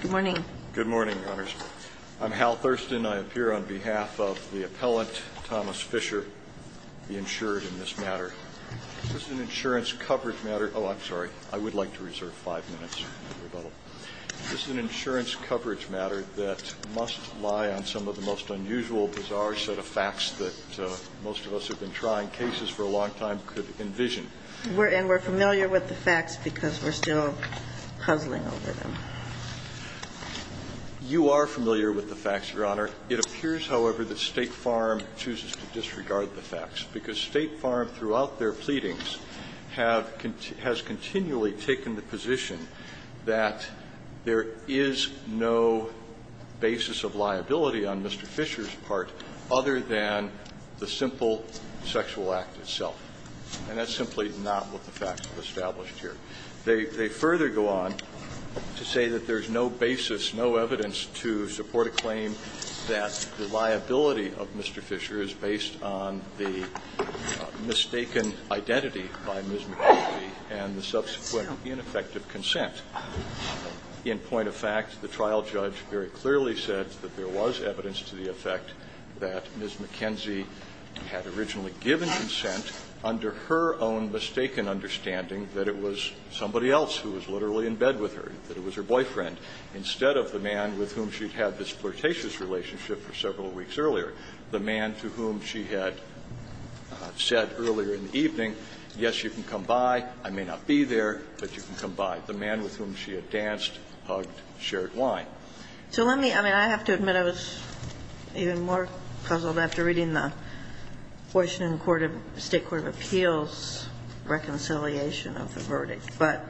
Good morning, Your Honors. I'm Hal Thurston. I appear on behalf of the appellant, Thomas Fischer, the insured in this matter. This is an insurance coverage matter. Oh, I'm sorry. I would like to reserve five minutes. This is an insurance coverage matter that must lie on some of the most unusual, bizarre set of facts that most of us have been trying, cases for a long time could envision. And we're familiar with the facts because we're still puzzling over them. You are familiar with the facts, Your Honor. It appears, however, that State Farm chooses to disregard the facts because State Farm, throughout their pleadings, has continually taken the position that there is no basis of liability on Mr. Fischer's part other than the simple sexual act itself. And that's simply not what the facts have established here. They further go on to say that there's no basis, no evidence to support a claim that the liability of Mr. Fischer is based on the mistaken identity by Ms. McKenzie and the subsequent ineffective consent. In point of fact, the trial judge very clearly said that there was evidence to the effect that Ms. McKenzie had originally given consent under her own mistaken understanding that it was somebody else who was literally in bed with her, that it was her boyfriend, instead of the man with whom she'd had this flirtatious relationship for several weeks earlier, the man to whom she had said earlier in the evening, yes, you can come by, I may not be there, but you can come by. Not the man with whom she had danced, hugged, shared wine. So let me – I mean, I have to admit I was even more puzzled after reading the Washington Court of – State Court of Appeals reconciliation of the verdict. But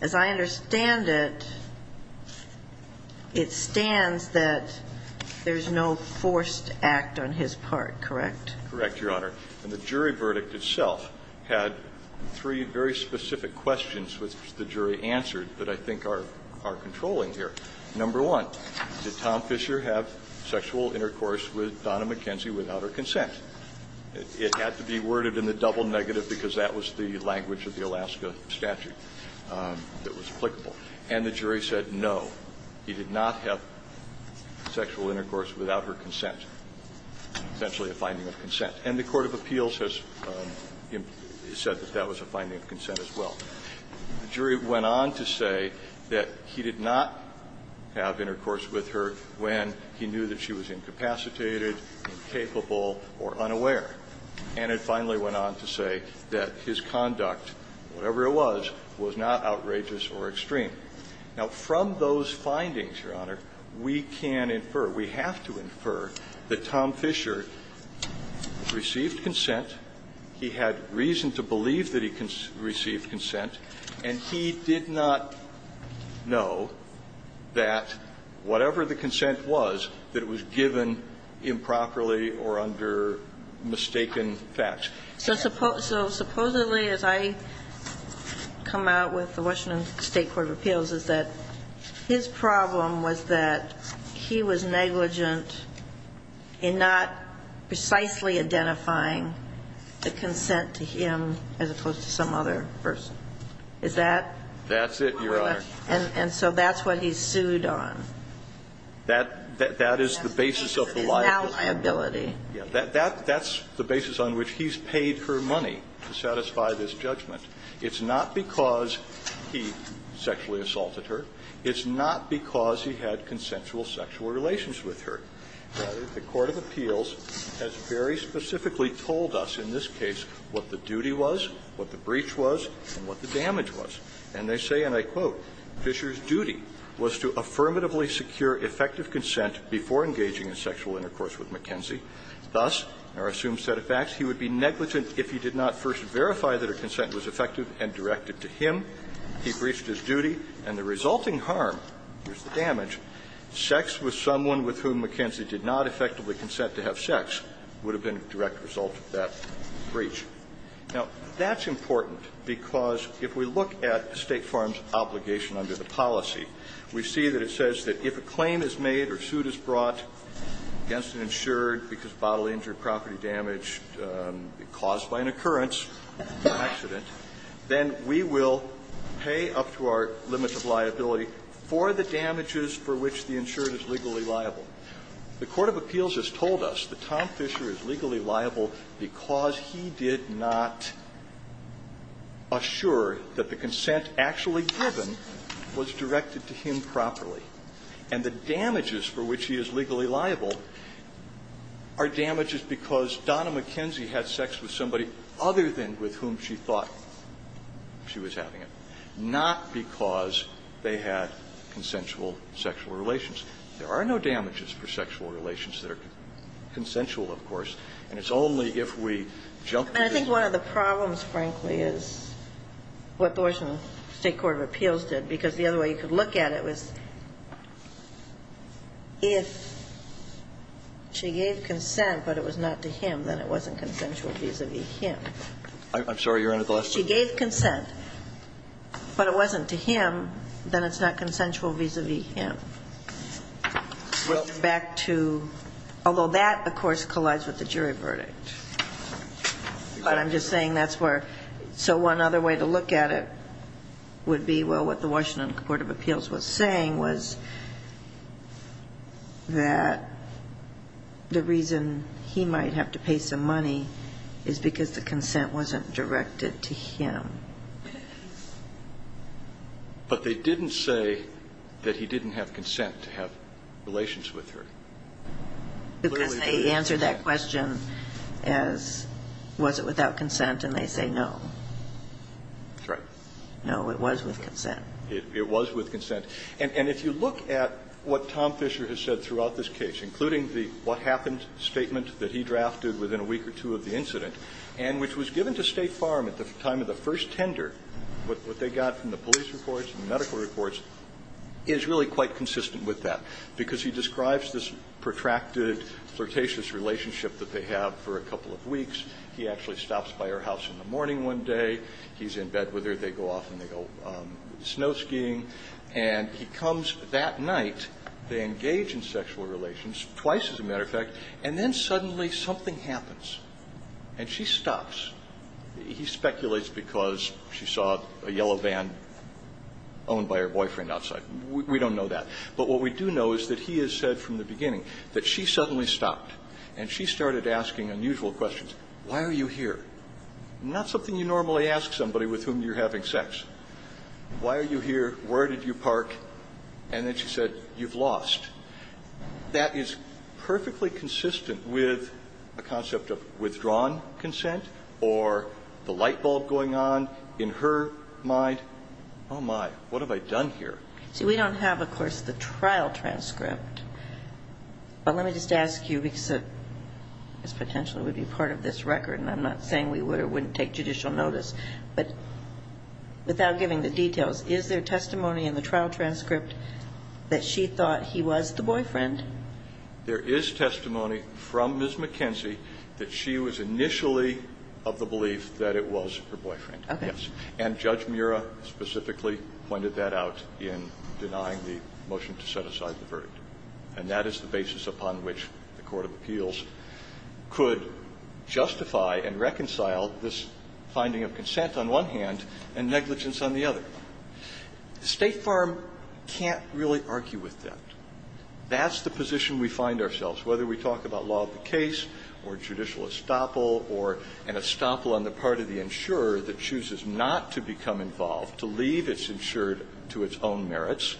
as I understand it, it stands that there's no forced act on his part, correct? Correct, Your Honor. And the jury verdict itself had three very specific questions which the jury answered that I think are – are controlling here. Number one, did Tom Fischer have sexual intercourse with Donna McKenzie without her consent? It had to be worded in the double negative because that was the language of the Alaska statute that was applicable. And the jury said no, he did not have sexual intercourse without her consent, essentially a finding of consent. And the Court of Appeals has said that that was a finding of consent as well. The jury went on to say that he did not have intercourse with her when he knew that she was incapacitated, incapable, or unaware. And it finally went on to say that his conduct, whatever it was, was not outrageous or extreme. Now, from those findings, Your Honor, we can infer, we have to infer, that Tom Fischer received consent, he had reason to believe that he received consent, and he did not know that whatever the consent was, that it was given improperly or under mistaken facts. So supposedly, as I come out with the Washington State Court of Appeals, is that his problem was that he was negligent in not precisely identifying the consent to him as opposed to some other person. Is that? That's it, Your Honor. And so that's what he's sued on. That is the basis of the liability. That's the basis on which he's paid her money to satisfy this judgment. It's not because he sexually assaulted her. It's not because he had consensual sexual relations with her. The Court of Appeals has very specifically told us in this case what the duty was, what the breach was, and what the damage was. And they say, and I quote, "...Fischer's duty was to affirmatively secure effective consent before engaging in sexual intercourse with Mackenzie. Thus, our assumed set of facts, he would be negligent if he did not first verify that her consent was effective and directed to him. He breached his duty, and the resulting harm, here's the damage, sex with someone with whom Mackenzie did not effectively consent to have sex would have been a direct result of that breach." Now, that's important, because if we look at State Farm's obligation under the policy, we see that it says that if a claim is made or a suit is brought against an insured because bodily injury, property damage caused by an occurrence, an accident, then we will pay up to our limits of liability for the damages for which the insured is legally liable. The Court of Appeals has told us that Tom Fischer is legally liable because he did not assure that the consent actually given was directed to him properly. And the damages for which he is legally liable are damages because Donna Mackenzie had sex with somebody other than with whom she thought she was having it, not because they had consensual sexual relations. There are no damages for sexual relations that are consensual, of course, and it's only if we jump to the other side. And I think one of the problems, frankly, is what the Washington State Court of Appeals did, because the other way you could look at it was if she gave consent but it was not to him, then it wasn't consensual vis-a-vis him. She gave consent but it wasn't to him, then it's not consensual vis-a-vis him. It's back to – although that, of course, collides with the jury verdict. But I'm just saying that's where – so one other way to look at it would be, well, what the Washington Court of Appeals was saying was that the reason he might have to pay some money is because the consent wasn't directed to him. But they didn't say that he didn't have consent to have relations with her. Because they answer that question as was it without consent, and they say no. That's right. No, it was with consent. It was with consent. And if you look at what Tom Fisher has said throughout this case, including the what happened statement that he drafted within a week or two of the incident, and which was given to State Farm at the time of the first tender, what they got from the police reports and the medical reports, is really quite consistent with that. Because he describes this protracted, flirtatious relationship that they have for a couple of weeks. He actually stops by her house in the morning one day. He's in bed with her. They go off and they go snow skiing. And he comes that night. They engage in sexual relations, twice as a matter of fact. And then suddenly something happens, and she stops. He speculates because she saw a yellow van owned by her boyfriend outside. We don't know that. But what we do know is that he has said from the beginning that she suddenly stopped, and she started asking unusual questions. Why are you here? Not something you normally ask somebody with whom you're having sex. Why are you here? Where did you park? And then she said, you've lost. That is perfectly consistent with a concept of withdrawn consent or the light bulb going on in her mind. Oh, my. What have I done here? See, we don't have, of course, the trial transcript. But let me just ask you, because this potentially would be part of this record, and I'm not saying we would or wouldn't take judicial notice, but without giving the details, is there testimony in the trial transcript that she thought he was the boyfriend? There is testimony from Ms. McKenzie that she was initially of the belief that it was her boyfriend. Okay. And Judge Murrah specifically pointed that out in denying the motion to set aside the verdict. And that is the basis upon which the court of appeals could justify and reconcile this finding of consent on one hand and negligence on the other. State Farm can't really argue with that. That's the position we find ourselves, whether we talk about law of the case or judicial estoppel or an estoppel on the part of the insurer that chooses not to become involved, to leave its insured to its own merits.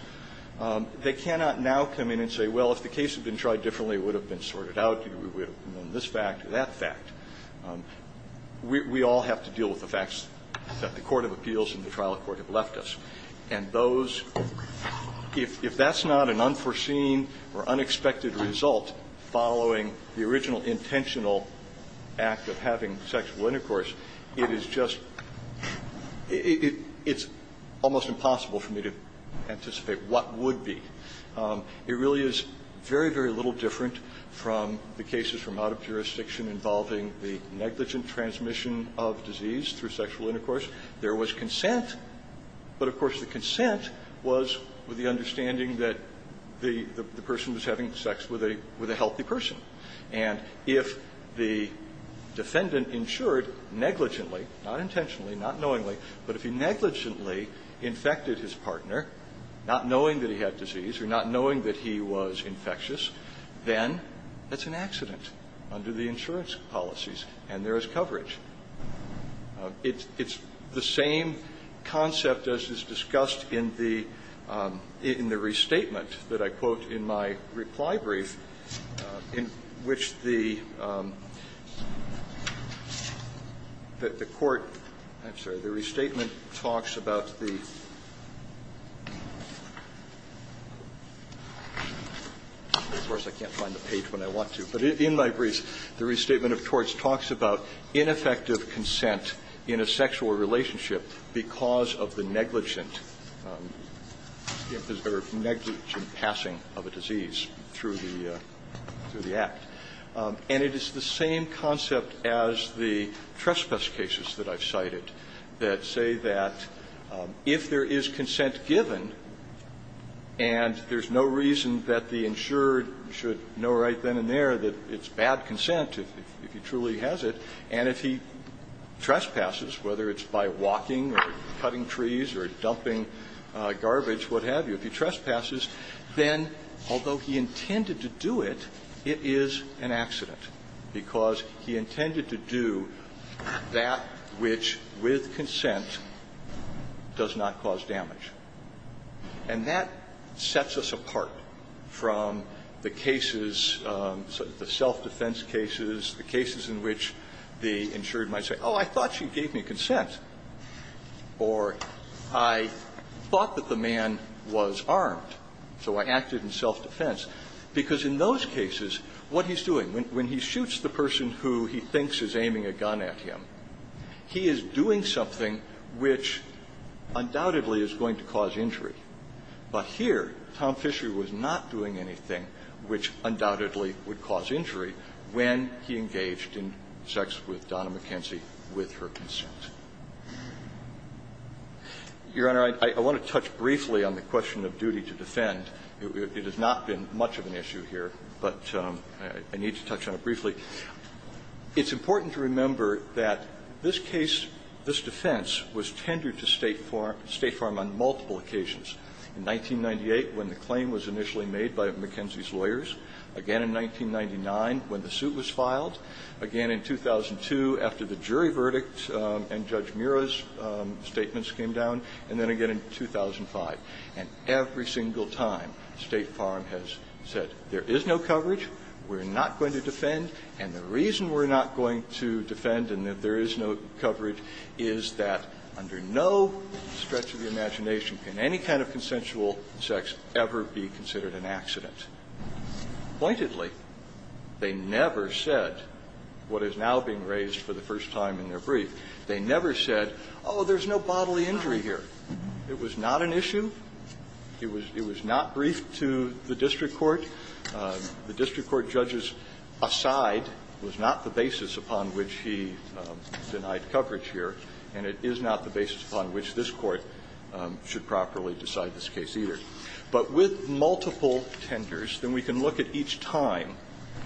They cannot now come in and say, well, if the case had been tried differently, it would have been sorted out, we would have known this fact or that fact. We all have to deal with the facts that the court of appeals and the trial court have left us. And those, if that's not an unforeseen or unexpected result following the original intentional act of having sexual intercourse, it is just, it's almost impossible for me to anticipate what would be. It really is very, very little different from the cases from out of jurisdiction involving the negligent transmission of disease through sexual intercourse. There was consent, but of course the consent was with the understanding that the person was having sex with a healthy person. And if the defendant insured negligently, not intentionally, not knowingly, but if he negligently infected his partner, not knowing that he had disease or not knowing that he was infectious, then that's an accident under the insurance policies and there is coverage. It's the same concept as is discussed in the restatement that I quote in my reply brief in which the court, I'm sorry, the restatement talks about the, of course I can't find the page when I want to, but in my brief, the restatement of torts talks about ineffective consent in a sexual relationship because of the negligent passing of a disease through the act. And it is the same concept as the trespass cases that I've cited that say that if there is consent given and there's no reason that the insured should know right then and there that it's bad consent if he truly has it, and if he trespasses, whether it's by walking or cutting trees or dumping garbage, what have you, if he trespasses, then although he intended to do it, it is an accident because he intended to do that which with consent does not cause damage. And that sets us apart from the cases, the self-defense cases, the cases in which the insured might say, oh, I thought you gave me consent, or I thought that the man was armed, so I acted in self-defense, because in those cases, what he's doing, when he shoots the person who he thinks is aiming a gun at him, he is doing something which undoubtedly is going to cause injury. But here, Tom Fisher was not doing anything which undoubtedly would cause injury when he engaged in sex with Donna McKenzie with her consent. Your Honor, I want to touch briefly on the question of duty to defend. It has not been much of an issue here, but I need to touch on it briefly. It's important to remember that this case, this defense, was tendered to State Farm on multiple occasions, in 1998 when the claim was initially made by McKenzie's lawyers, again in 1999 when the suit was filed, again in 2002 after the jury verdict and Judge Mura's statements came down, and then again in 2005. And every single time, State Farm has said there is no coverage, we're not going to defend, and the reason we're not going to defend and that there is no coverage is that under no stretch of the imagination can any kind of consensual sex ever be considered an accident. Pointedly, they never said what is now being raised for the first time in their brief, they never said, oh, there's no bodily injury here. It was not an issue. It was not briefed to the district court. The district court judges aside was not the basis upon which he denied coverage here, and it is not the basis upon which this Court should properly decide this case either. But with multiple tenders, then we can look at each time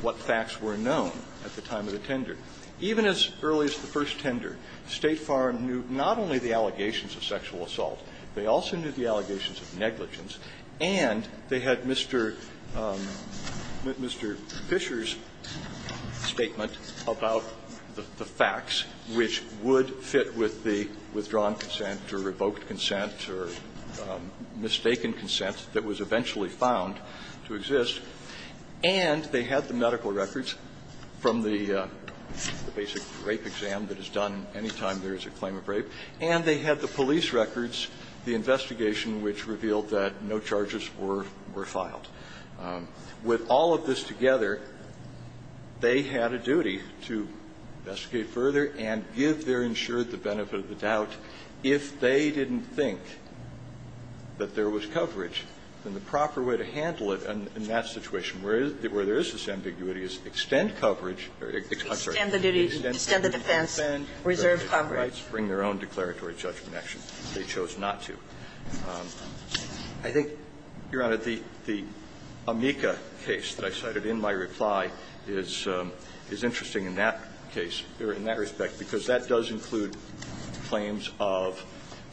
what facts were known at the time of the tender. Even as early as the first tender, State Farm knew not only the allegations of sexual assault, they also knew the allegations of negligence, and they had Mr. Fisher's statement about the facts which would fit with the withdrawn consent or revoked consent or mistaken consent that was eventually found to exist, and they had the medical records from the basic rape exam that is done any time there is a claim of rape, and they had the police records, the investigation which revealed that no charges were filed. With all of this together, they had a duty to investigate further and give their insured the benefit of the doubt. If they didn't think that there was coverage, then the proper way to handle it in that situation where there is this ambiguity is extend coverage or, I'm sorry, extend the defense, reserve coverage. Bring their own declaratory judgment action. They chose not to. I think, Your Honor, the amica case that I cited in my reply is interesting in that case, or in that respect, because that does include claims of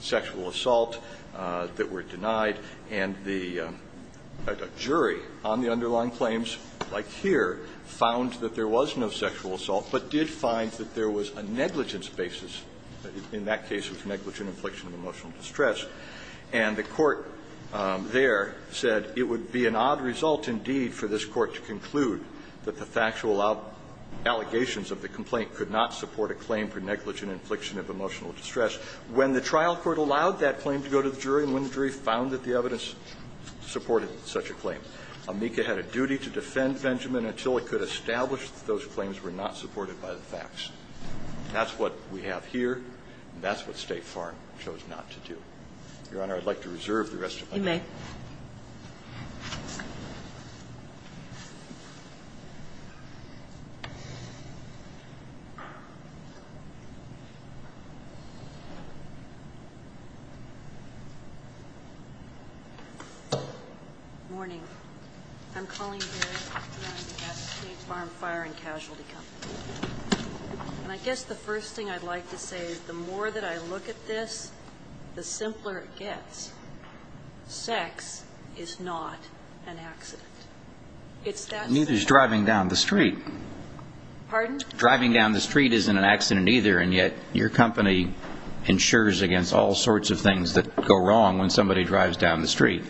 sexual assault that were denied, and the jury on the underlying claims, like here, found that there was no sexual assault, but did find that there was a negligence basis. In that case, it was negligent infliction of emotional distress. And the court there said it would be an odd result, indeed, for this court to conclude that the factual allegations of the complaint could not support a claim for negligent infliction of emotional distress when the trial court allowed that claim to go to the jury and when the jury found that the evidence supported such a claim. Amica had a duty to defend Benjamin until it could establish that those claims were not supported by the facts. That's what we have here, and that's what State Farm chose not to do. Your Honor, I'd like to reserve the rest of my time. Kagan. Morning. I'm Colleen Barrett, and I'm on behalf of State Farm Fire and Casualty Company. And I guess the first thing I'd like to say is the more that I look at this, the simpler it gets. Sex is not an accident. It's that simple. Neither is driving down the street. Pardon? Driving down the street isn't an accident either, and yet your company insures against all sorts of things that go wrong when somebody drives down the street.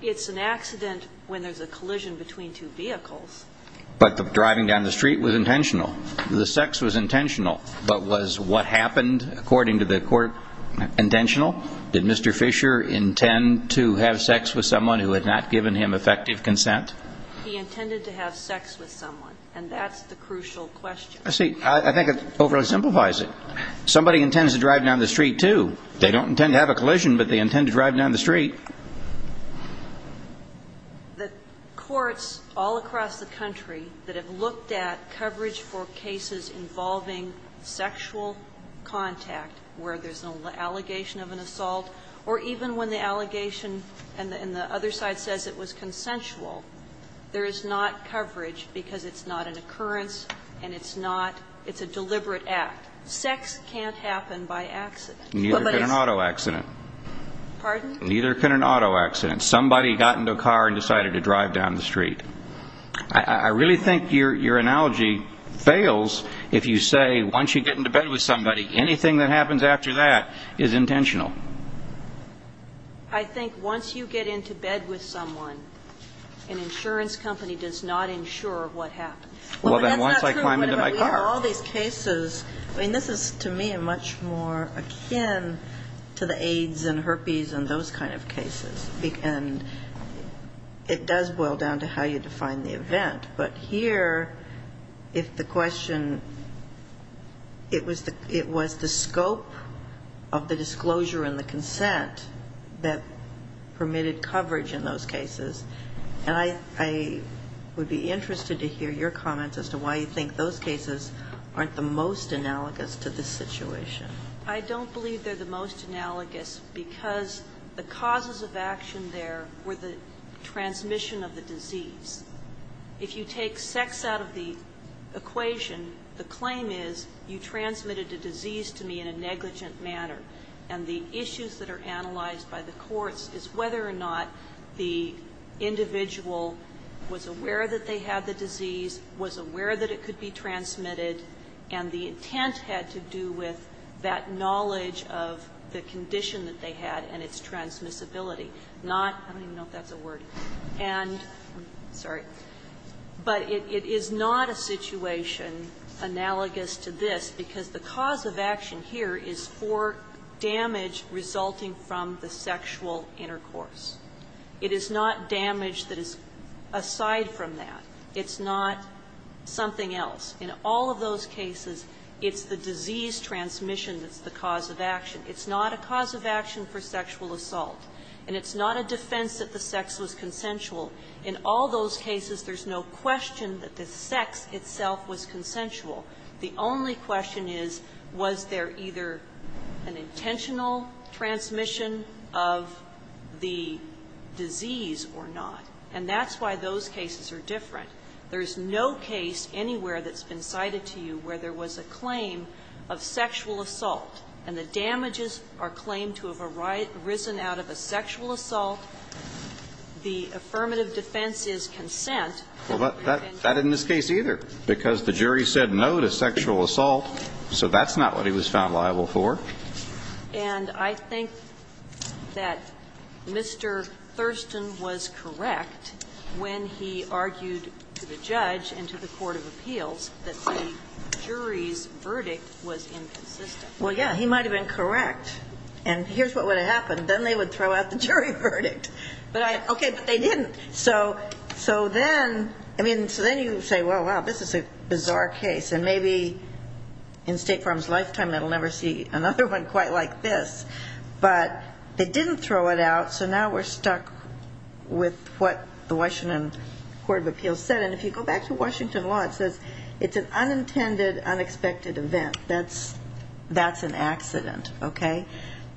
It's an accident when there's a collision between two vehicles. But the driving down the street was intentional. The sex was intentional. But was what happened according to the court intentional? Did Mr. Fisher intend to have sex with someone who had not given him effective consent? He intended to have sex with someone, and that's the crucial question. See, I think it overly simplifies it. Somebody intends to drive down the street, too. They don't intend to have a collision, but they intend to drive down the street. The courts all across the country that have looked at coverage for cases involving sexual contact where there's an allegation of an assault or even when the allegation and the other side says it was consensual, there is not coverage because it's not an occurrence and it's not – it's a deliberate act. Sex can't happen by accident. Neither can an auto accident. Pardon? Neither can an auto accident. Somebody got into a car and decided to drive down the street. I really think your analogy fails if you say once you get into bed with somebody, anything that happens after that is intentional. I think once you get into bed with someone, an insurance company does not insure what Well, then once I climb into my car – But that's not true. I mean, we have all these cases – I mean, this is, to me, much more akin to the AIDS and herpes and those kind of cases, and it does boil down to how you define the event. But here, if the question – it was the scope of the disclosure and the consent that permitted coverage in those cases, and I would be interested to hear your comments as to why you think those cases aren't the most analogous to this situation. I don't believe they're the most analogous because the causes of action there were the transmission of the disease. If you take sex out of the equation, the claim is you transmitted the disease to me in a negligent manner. And the issues that are analyzed by the courts is whether or not the individual was aware that they had the disease, was aware that it could be transmitted, and the intent had to do with that knowledge of the condition that they had and its transmissibility. Not – I don't even know if that's a word. And – sorry. But it is not a situation analogous to this because the cause of action here is for damage resulting from the sexual intercourse. It is not damage that is aside from that. It's not something else. In all of those cases, it's the disease transmission that's the cause of action. It's not a cause of action for sexual assault. And it's not a defense that the sex was consensual. In all those cases, there's no question that the sex itself was consensual. The only question is was there either an intentional transmission of the disease or not. And that's why those cases are different. There's no case anywhere that's been cited to you where there was a claim of sexual assault, and the damages are claimed to have arisen out of a sexual assault. The affirmative defense is consent. Well, but that isn't the case either because the jury said no to sexual assault, so that's not what he was found liable for. And I think that Mr. Thurston was correct when he argued to the judge and to the court of appeals that the jury's verdict was inconsistent. Well, yeah, he might have been correct, and here's what would have happened. Then they would throw out the jury verdict. Okay, but they didn't. So then you say, well, wow, this is a bizarre case, and maybe in State Farm's case it would be another one quite like this. But they didn't throw it out, so now we're stuck with what the Washington court of appeals said. And if you go back to Washington law, it says it's an unintended, unexpected event. That's an accident, okay?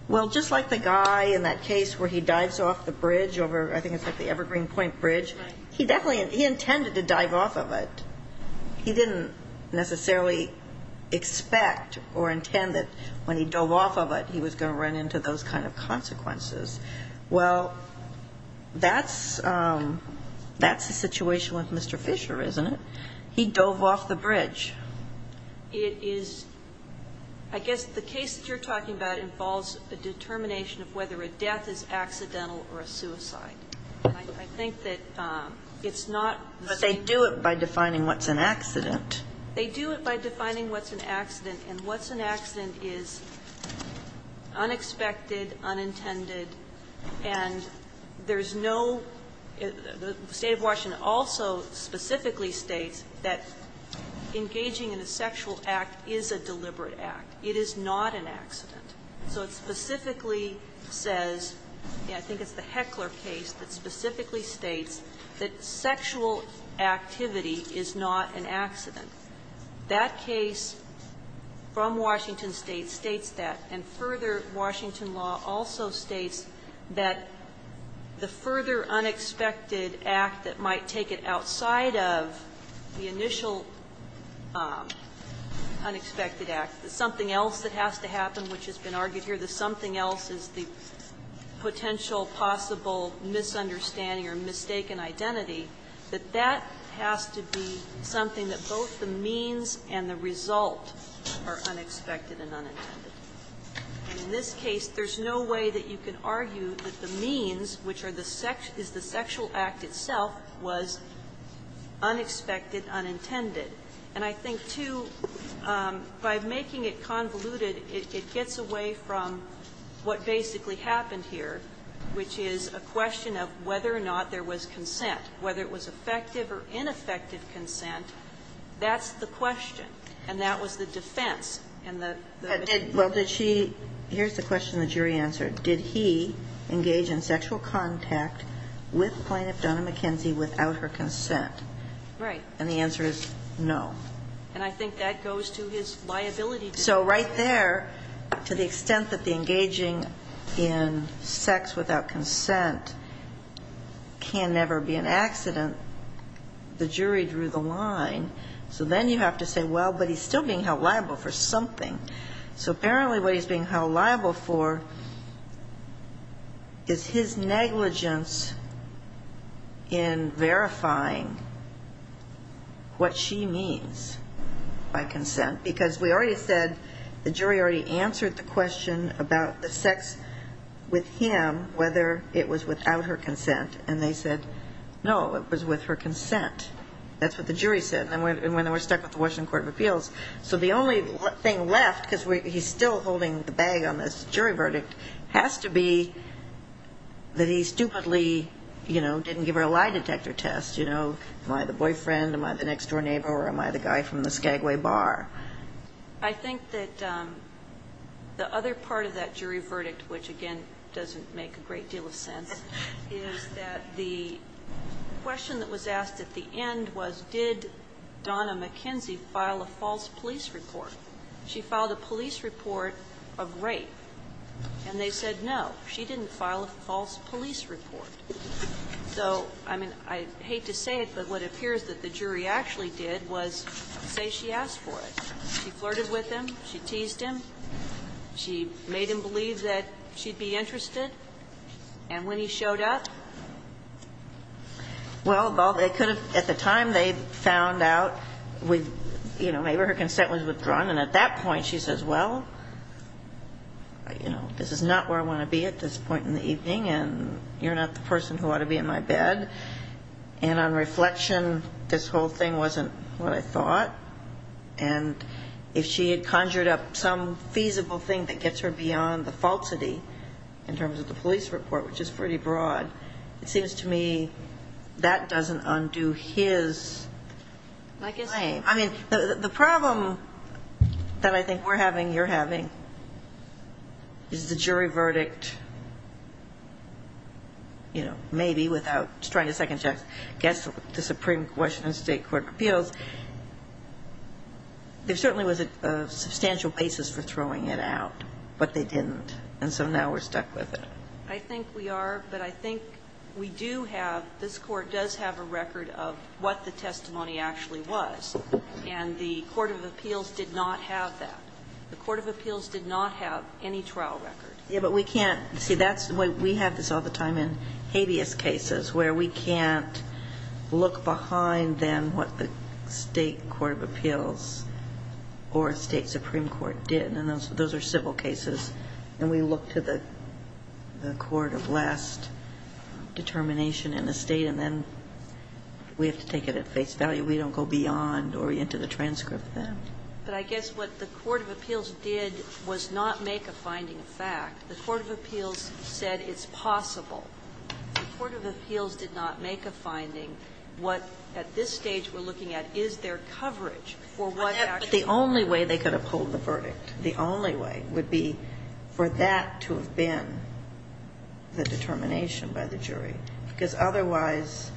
Well, just like the guy in that case where he dives off the bridge over, I think it's like the Evergreen Point Bridge, he intended to dive off of it. He didn't necessarily expect or intend that when he dove off of it he was going to run into those kind of consequences. Well, that's the situation with Mr. Fisher, isn't it? He dove off the bridge. It is, I guess the case that you're talking about involves a determination of whether a death is accidental or a suicide. I think that it's not the same. They do it by defining what's an accident. They do it by defining what's an accident, and what's an accident is unexpected, unintended, and there's no the State of Washington also specifically states that engaging in a sexual act is a deliberate act. It is not an accident. So it specifically says, I think it's the Heckler case that specifically states that sexual activity is not an accident. That case from Washington State states that. And further, Washington law also states that the further unexpected act that might take it outside of the initial unexpected act, the something else that has to happen, which has been argued here, the something else is the potential possible misunderstanding or mistaken identity, that that has to be something that both the means and the result are unexpected and unintended. In this case, there's no way that you can argue that the means, which is the sexual act itself, was unexpected, unintended. And I think, too, by making it convoluted, it gets away from what basically happened here, which is a question of whether or not there was consent, whether it was effective or ineffective consent. That's the question. And that was the defense. And the defense. Kagan. Well, did she? Here's the question the jury answered. Did he engage in sexual contact with Plaintiff Donna McKenzie without her consent? Right. And the answer is no. And I think that goes to his liability. So right there, to the extent that the engaging in sex without consent can never be an accident, the jury drew the line. So then you have to say, well, but he's still being held liable for something. So apparently what he's being held liable for is his negligence in verifying what she means by consent, because we already said the jury already answered the question about the sex with him, whether it was without her consent. And they said no, it was with her consent. That's what the jury said. And then we're stuck with the Washington Court of Appeals. So the only thing left, because he's still holding the bag on this jury verdict, has to be that he stupidly didn't give her a lie detector test. You know, am I the boyfriend, am I the next-door neighbor, or am I the guy from the Skagway bar? I think that the other part of that jury verdict, which, again, doesn't make a great deal of sense, is that the question that was asked at the end was, did Donna McKenzie file a false police report? She filed a police report of rape. And they said no, she didn't file a false police report. So, I mean, I hate to say it, but what appears that the jury actually did was say she asked for it. She flirted with him. She teased him. She made him believe that she'd be interested. And when he showed up? Well, they could have, at the time, they found out with, you know, maybe her consent was withdrawn. And at that point, she says, well, you know, this is not where I want to be at this point in the evening, and you're not the person who ought to be in my bed. And on reflection, this whole thing wasn't what I thought. And if she had conjured up some feasible thing that gets her beyond the falsity in terms of the police report, which is pretty broad, it seems to me that doesn't undo his claim. I mean, the problem that I think we're having, you're having, is the jury verdict, you know, maybe without trying to second-guess the Supreme Court of Washington State Court of Appeals. There certainly was a substantial basis for throwing it out. But they didn't. And so now we're stuck with it. I think we are. But I think we do have, this court does have a record of what the testimony actually was. And the Court of Appeals did not have that. The Court of Appeals did not have any trial record. Yeah, but we can't. See, that's why we have this all the time in habeas cases, where we can't look behind then what the State Court of Appeals or State Supreme Court did. And those are civil cases. And we look to the court of last determination in the State, and then we have to take it at face value. We don't go beyond or into the transcript of that. But I guess what the Court of Appeals did was not make a finding fact. The Court of Appeals said it's possible. The Court of Appeals did not make a finding. What, at this stage, we're looking at is their coverage for what actually happened. But the only way they could uphold the verdict, the only way, would be for that to have been the determination by the jury. Because otherwise,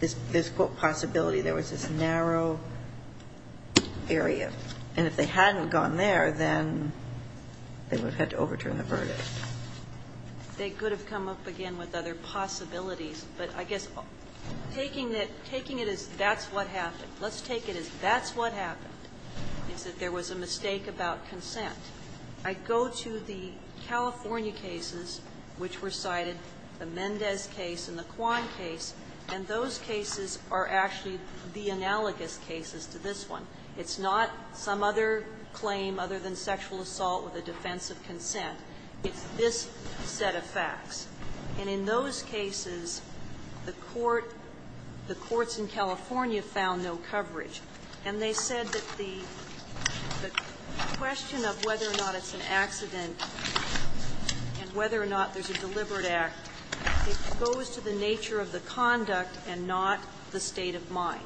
there's, quote, possibility there was this narrow area. And if they hadn't gone there, then they would have had to overturn the verdict. They could have come up again with other possibilities. But I guess taking it as that's what happened, let's take it as that's what happened, is that there was a mistake about consent. I go to the California cases which were cited, the Mendez case and the Kwan case, and those cases are actually the analogous cases to this one. It's not some other claim other than sexual assault with a defense of consent. It's this set of facts. And in those cases, the court, the courts in California found no coverage. And they said that the question of whether or not it's an accident and whether or not there's a deliberate act, it goes to the nature of the conduct and not the state of mind.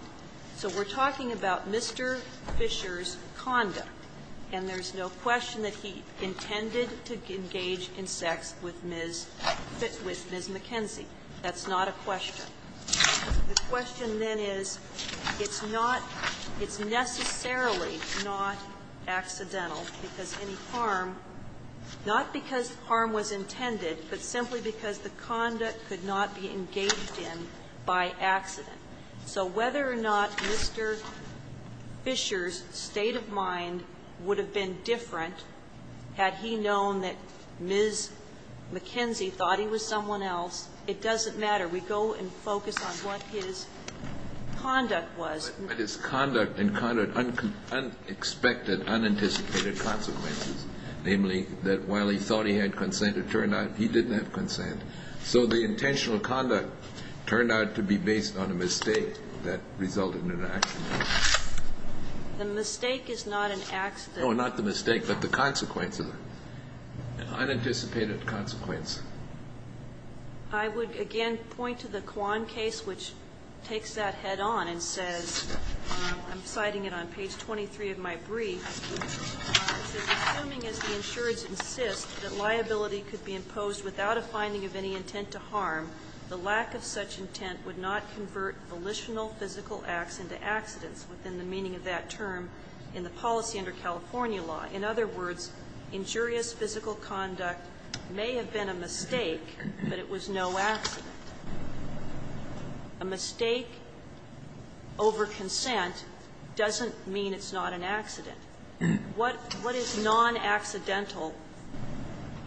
So we're talking about Mr. Fisher's conduct, and there's no question that he intended to engage in sex with Ms. McKenzie. That's not a question. The question, then, is it's not, it's necessarily not accidental because any harm, not because harm was intended, but simply because the conduct could not be engaged in by accident. So whether or not Mr. Fisher's state of mind would have been different had he known that Ms. McKenzie thought he was someone else, it doesn't matter. We go and focus on what his conduct was. But his conduct encountered unexpected, unanticipated consequences, namely that while he thought he had consent, it turned out he didn't have consent. So the intentional conduct turned out to be based on a mistake that resulted in an accident. The mistake is not an accident. No, not the mistake, but the consequence of it, an unanticipated consequence. I would, again, point to the Kwan case, which takes that head on and says, I'm citing it on page 23 of my brief, it says, Assuming as the insureds insist that liability could be imposed without a finding of any intent to harm, the lack of such intent would not convert volitional physical acts into accidents within the meaning of that term in the policy under California law. In other words, injurious physical conduct may have been a mistake, but it was no accident. A mistake over consent doesn't mean it's not an accident. What is non-accidental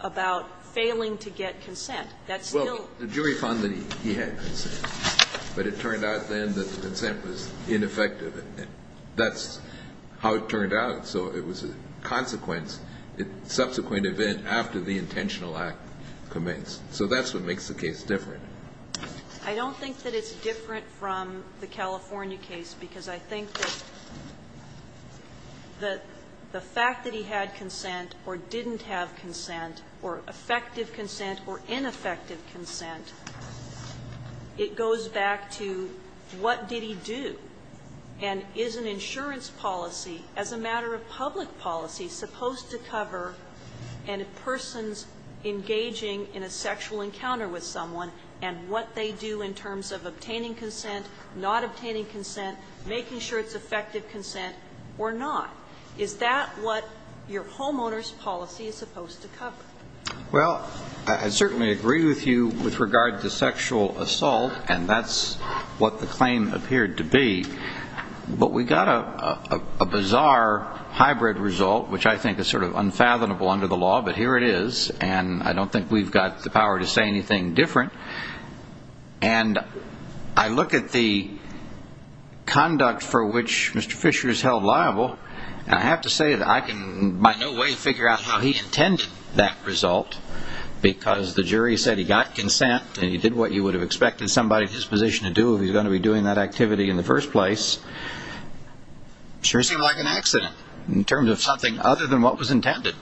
about failing to get consent? That's still the case. The jury found that he had consent, but it turned out then that the consent was ineffective. That's how it turned out. So it was a consequence, subsequent event after the intentional act commits. So that's what makes the case different. I don't think that it's different from the California case, because I think that the fact that he had consent or didn't have consent or effective consent or ineffective consent, it goes back to what did he do, and is an insurance policy, as a matter of public policy, supposed to cover a person's engaging in a sexual encounter with someone and what they do in terms of obtaining consent, not obtaining consent, making sure it's effective consent or not? Is that what your homeowner's policy is supposed to cover? Well, I certainly agree with you with regard to sexual assault, and that's what the claim appeared to be. But we got a bizarre hybrid result, which I think is sort of unfathomable under the law, but here it is, and I don't think we've got the power to say anything different. And I look at the conduct for which Mr. Fisher is held liable, and I have to say that I can by no way figure out how he intended that result, because the jury said he got consent and he did what you would have expected somebody in his position to do if they were going to be doing that activity in the first place. It sure seemed like an accident in terms of something other than what was intended.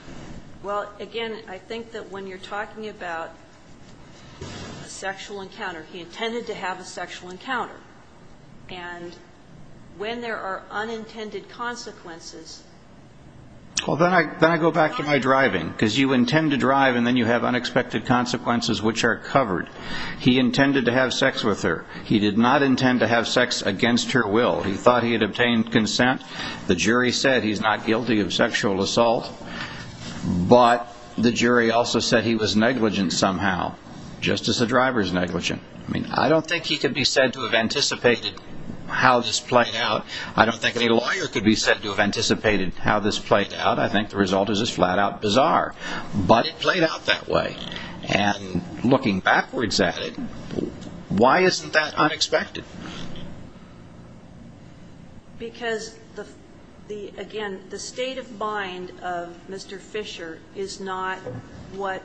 Well, again, I think that when you're talking about a sexual encounter, he intended to have a sexual encounter. And when there are unintended consequences... Well, then I go back to my driving, because you intend to drive and then you have unexpected consequences which are covered. He intended to have sex with her. He did not intend to have sex against her will. He thought he had obtained consent. The jury said he's not guilty of sexual assault, but the jury also said he was negligent somehow, just as a driver's negligent. I mean, I don't think he could be said to have anticipated how this played out. I don't think any lawyer could be said to have anticipated how this played out. I think the result is just flat-out bizarre. But it played out that way. And looking backwards at it, why isn't that unexpected? Because, again, the state of mind of Mr. Fisher is not what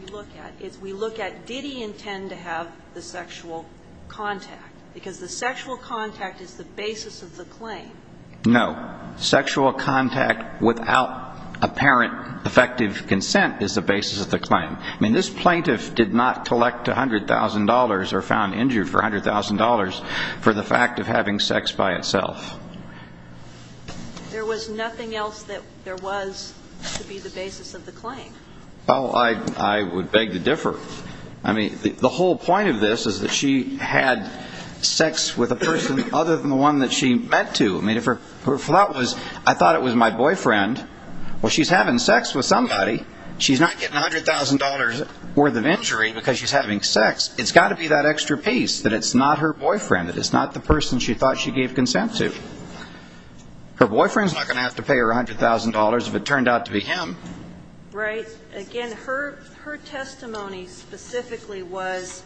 we look at. We look at did he intend to have the sexual contact, because the sexual contact is the basis of the claim. No. Sexual contact without apparent effective consent is the basis of the claim. I mean, this plaintiff did not collect $100,000 or found injured for $100,000 for the fact of having sex by itself. There was nothing else that there was to be the basis of the claim. Oh, I would beg to differ. I mean, the whole point of this is that she had sex with a person other than the one that she meant to. I mean, if her thought was I thought it was my boyfriend, well, she's having sex with somebody. She's not getting $100,000 worth of injury because she's having sex. It's got to be that extra piece that it's not her boyfriend, that it's not the person she thought she gave consent to. Her boyfriend's not going to have to pay her $100,000 if it turned out to be him. Right. Again, her testimony specifically was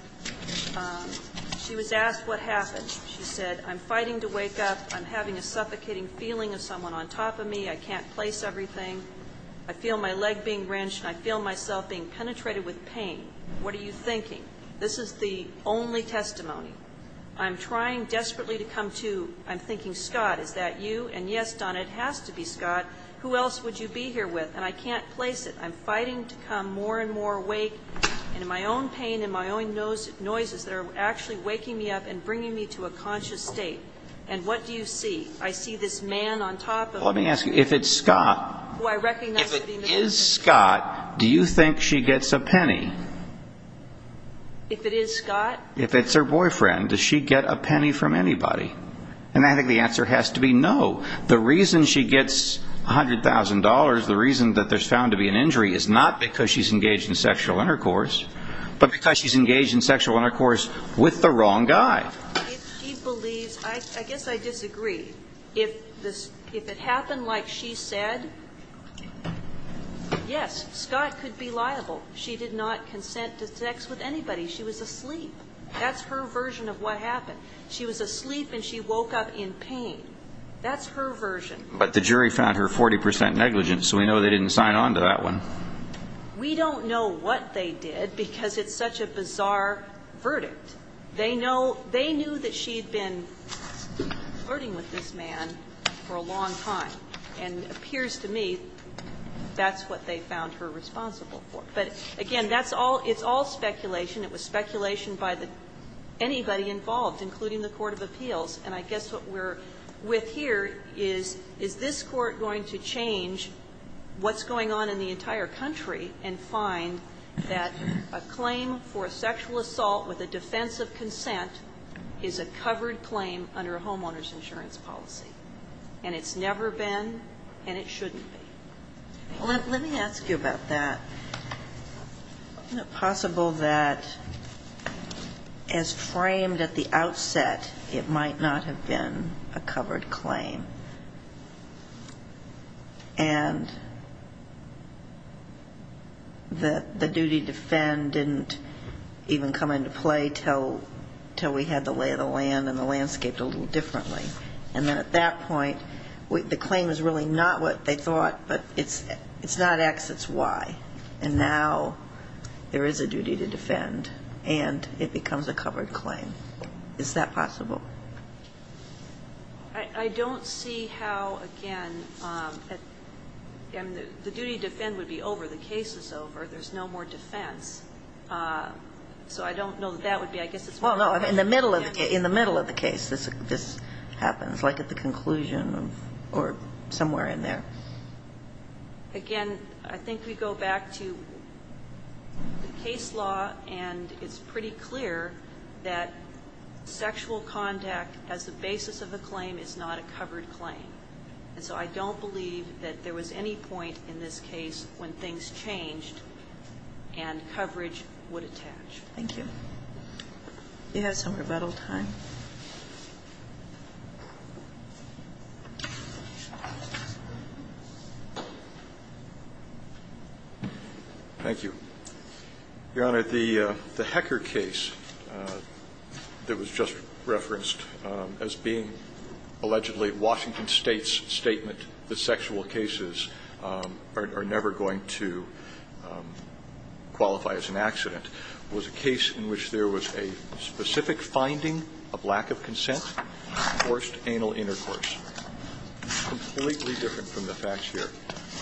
she was asked what happened. She said, I'm fighting to wake up. I'm having a suffocating feeling of someone on top of me. I can't place everything. I feel my leg being wrenched, and I feel myself being penetrated with pain. What are you thinking? This is the only testimony. I'm trying desperately to come to, I'm thinking, Scott, is that you? And, yes, Donna, it has to be Scott. Who else would you be here with? And I can't place it. I'm fighting to come more and more awake, and in my own pain, and in my own noises that are actually waking me up and bringing me to a conscious state. And what do you see? I see this man on top of me. Let me ask you, if it's Scott, if it is Scott, do you think she gets a penny? If it is Scott? If it's her boyfriend, does she get a penny from anybody? And I think the answer has to be no. The reason she gets $100,000, the reason that there's found to be an injury is not because she's engaged in sexual intercourse, but because she's engaged in sexual intercourse with the wrong guy. If she believes, I guess I disagree. If it happened like she said, yes, Scott could be liable. She did not consent to sex with anybody. She was asleep. That's her version of what happened. She was asleep and she woke up in pain. That's her version. But the jury found her 40% negligent, so we know they didn't sign on to that one. We don't know what they did because it's such a bizarre verdict. They know they knew that she had been flirting with this man for a long time, and it appears to me that's what they found her responsible for. But, again, that's all, it's all speculation. It was speculation by the, anybody involved, including the court of appeals. And I guess what we're with here is, is this Court going to change what's going on in the entire country and find that a claim for sexual assault with a defense of consent is a covered claim under a homeowner's insurance policy? And it's never been and it shouldn't be. Let me ask you about that. Isn't it possible that as framed at the outset, it might not have been a covered claim? And the duty to defend didn't even come into play until we had the lay of the land and the landscape a little differently. And then at that point, the claim is really not what they thought, but it's not X, it's Y. And now there is a duty to defend, and it becomes a covered claim. Is that possible? I don't see how, again, the duty to defend would be over. The case is over. There's no more defense. So I don't know that that would be. I guess it's more of a case. Well, no, in the middle of the case, this happens, like at the conclusion of, or somewhere in there. Again, I think we go back to the case law, and it's pretty clear that sexual contact as the basis of a claim is not a covered claim. And so I don't believe that there was any point in this case when things changed and coverage would attach. Thank you. We have some rebuttal time. Thank you. Your Honor, the Hecker case that was just referenced as being allegedly Washington State's statement that sexual cases are never going to qualify as an accident was a case in which there was a specific finding of lack of consent, forced anal intercourse. Completely different from the facts here.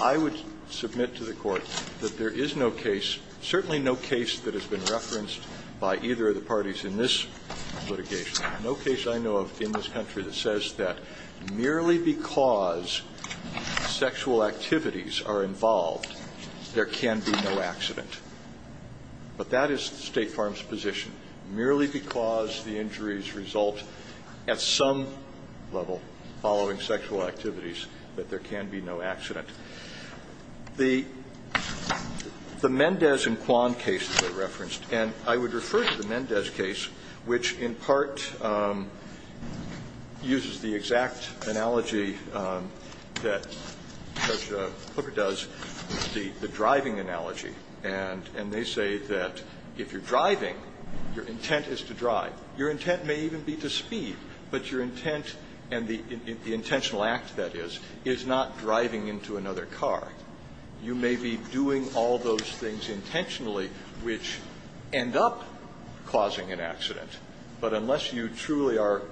I would submit to the Court that there is no case, certainly no case that has been referenced by either of the parties in this litigation, no case I know of in this country that says that merely because sexual activities are involved, there can be no accident. But that is State Farm's position. Merely because the injuries result at some level following sexual activities, that there can be no accident. The Mendez and Kwan cases were referenced, and I would refer to the Mendez case, which in part uses the exact analogy that Judge Hooker does, the driving analogy. And they say that if you're driving, your intent is to drive. Your intent may even be to speed. But your intent and the intentional act, that is, is not driving into another car. You may be doing all those things intentionally which end up causing an accident. But unless you truly are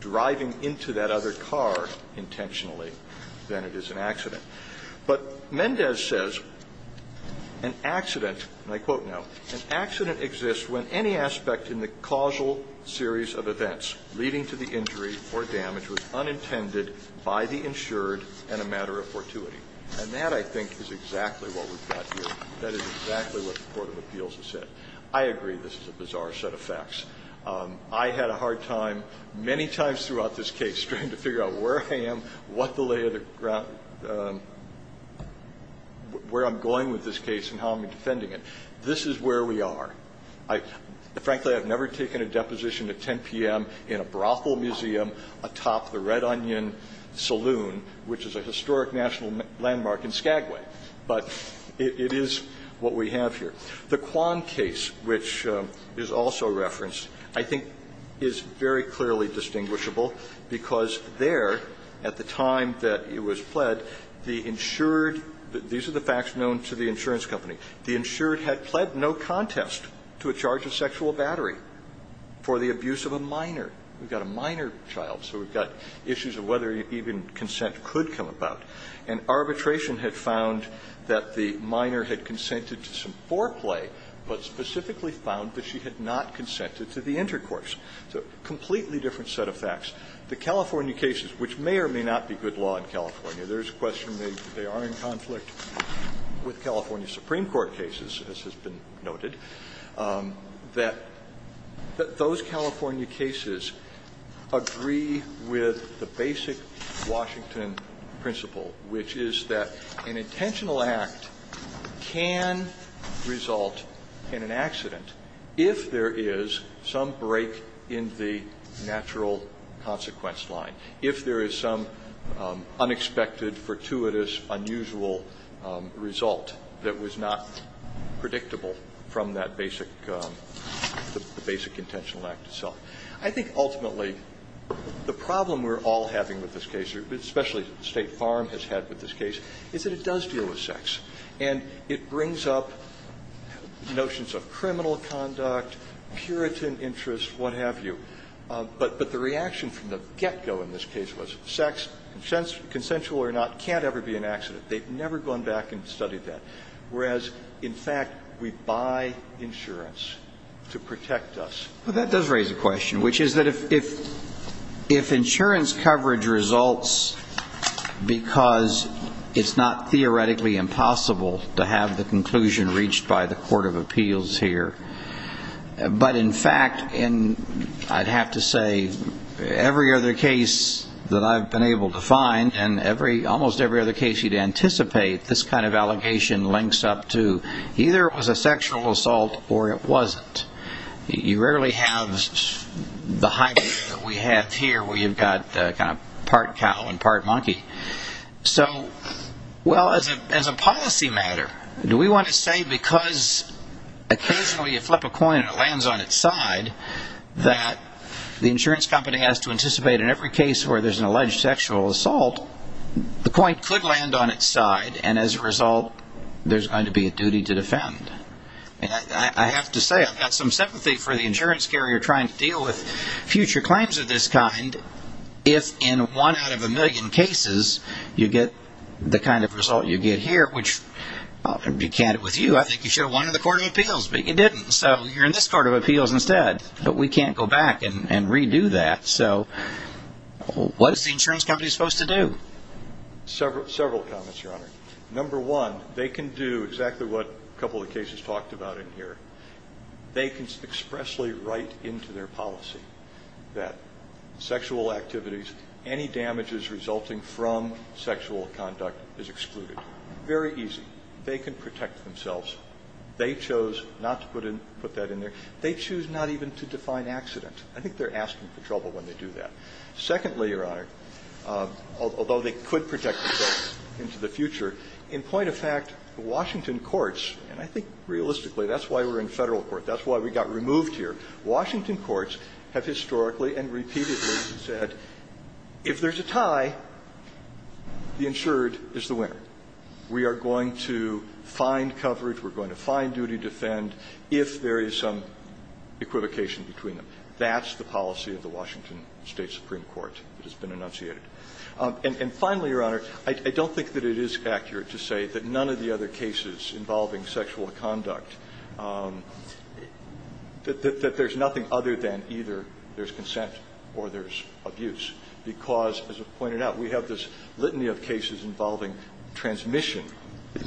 driving into that other car intentionally, then it is an accident. But Mendez says an accident, and I quote now, And that, I think, is exactly what we've got here. That is exactly what the court of appeals has said. I agree this is a bizarre set of facts. I had a hard time many times throughout this case trying to figure out where I am, what the lay of the ground, where I'm going with this case and how I'm defending this case. This is where we are. Frankly, I've never taken a deposition at 10 p.m. in a brothel museum atop the Red Onion Saloon, which is a historic national landmark in Skagway. But it is what we have here. The Kwan case, which is also referenced, I think is very clearly distinguishable because there, at the time that it was pled, the insured – these are the facts known to the insurance company. The insured had pled no contest to a charge of sexual battery for the abuse of a minor. We've got a minor child, so we've got issues of whether even consent could come about. And arbitration had found that the minor had consented to some foreplay, but specifically found that she had not consented to the intercourse. So a completely different set of facts. The California cases, which may or may not be good law in California. There's a question they are in conflict with California Supreme Court cases, as has been noted. That those California cases agree with the basic Washington principle, which is that an intentional act can result in an accident if there is some break in the natural consequence line. If there is some unexpected, fortuitous, unusual result that was not predictable from that basic – the basic intentional act itself. I think ultimately the problem we're all having with this case, especially State Farm has had with this case, is that it does deal with sex. And it brings up notions of criminal conduct, puritan interests, what have you. But the reaction from the get-go in this case was sex, consensual or not, can't ever be an accident. They've never gone back and studied that. Whereas, in fact, we buy insurance to protect us. Well, that does raise a question, which is that if insurance coverage results because it's not theoretically impossible to have the conclusion reached by the court of appeals here. But, in fact, I'd have to say every other case that I've been able to find, and almost every other case you'd anticipate, this kind of allegation links up to either it was a sexual assault or it wasn't. You rarely have the hybrid that we have here where you've got part cow and part monkey. So, well, as a policy matter, do we want to say because occasionally you flip a coin and it lands on its side that the insurance company has to anticipate in every case where there's an alleged sexual assault, the coin could land on its side and, as a result, there's going to be a duty to defend? I have to say I've got some sympathy for the insurance carrier trying to deal with you get the kind of result you get here, which, to be candid with you, I think you should have won in the court of appeals, but you didn't. So you're in this court of appeals instead. But we can't go back and redo that. So what is the insurance company supposed to do? Several comments, Your Honor. Number one, they can do exactly what a couple of cases talked about in here. They can expressly write into their policy that sexual activities, any damages resulting from sexual conduct is excluded. Very easy. They can protect themselves. They chose not to put that in there. They choose not even to define accident. I think they're asking for trouble when they do that. Secondly, Your Honor, although they could protect themselves into the future, in point of fact, Washington courts, and I think realistically that's why we're in federal court, that's why we got removed here, Washington courts have historically and repeatedly said if there's a tie, the insured is the winner. We are going to find coverage. We're going to find duty to defend if there is some equivocation between them. That's the policy of the Washington State Supreme Court that has been enunciated. And finally, Your Honor, I don't think that it is accurate to say that none of the other cases involving sexual conduct, that there's nothing other than either there's consent or there's abuse, because, as was pointed out, we have this litany of cases involving transmission.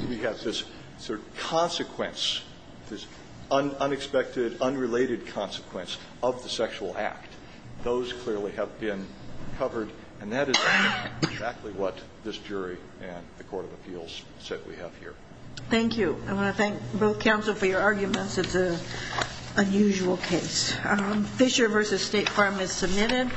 We have this sort of consequence, this unexpected, unrelated consequence of the sexual act. Those clearly have been covered, and that is exactly what this jury and the court of appeals said we have here. Thank you. I want to thank both counsel for your arguments. It's an unusual case. Fisher v. State Farm is submitted.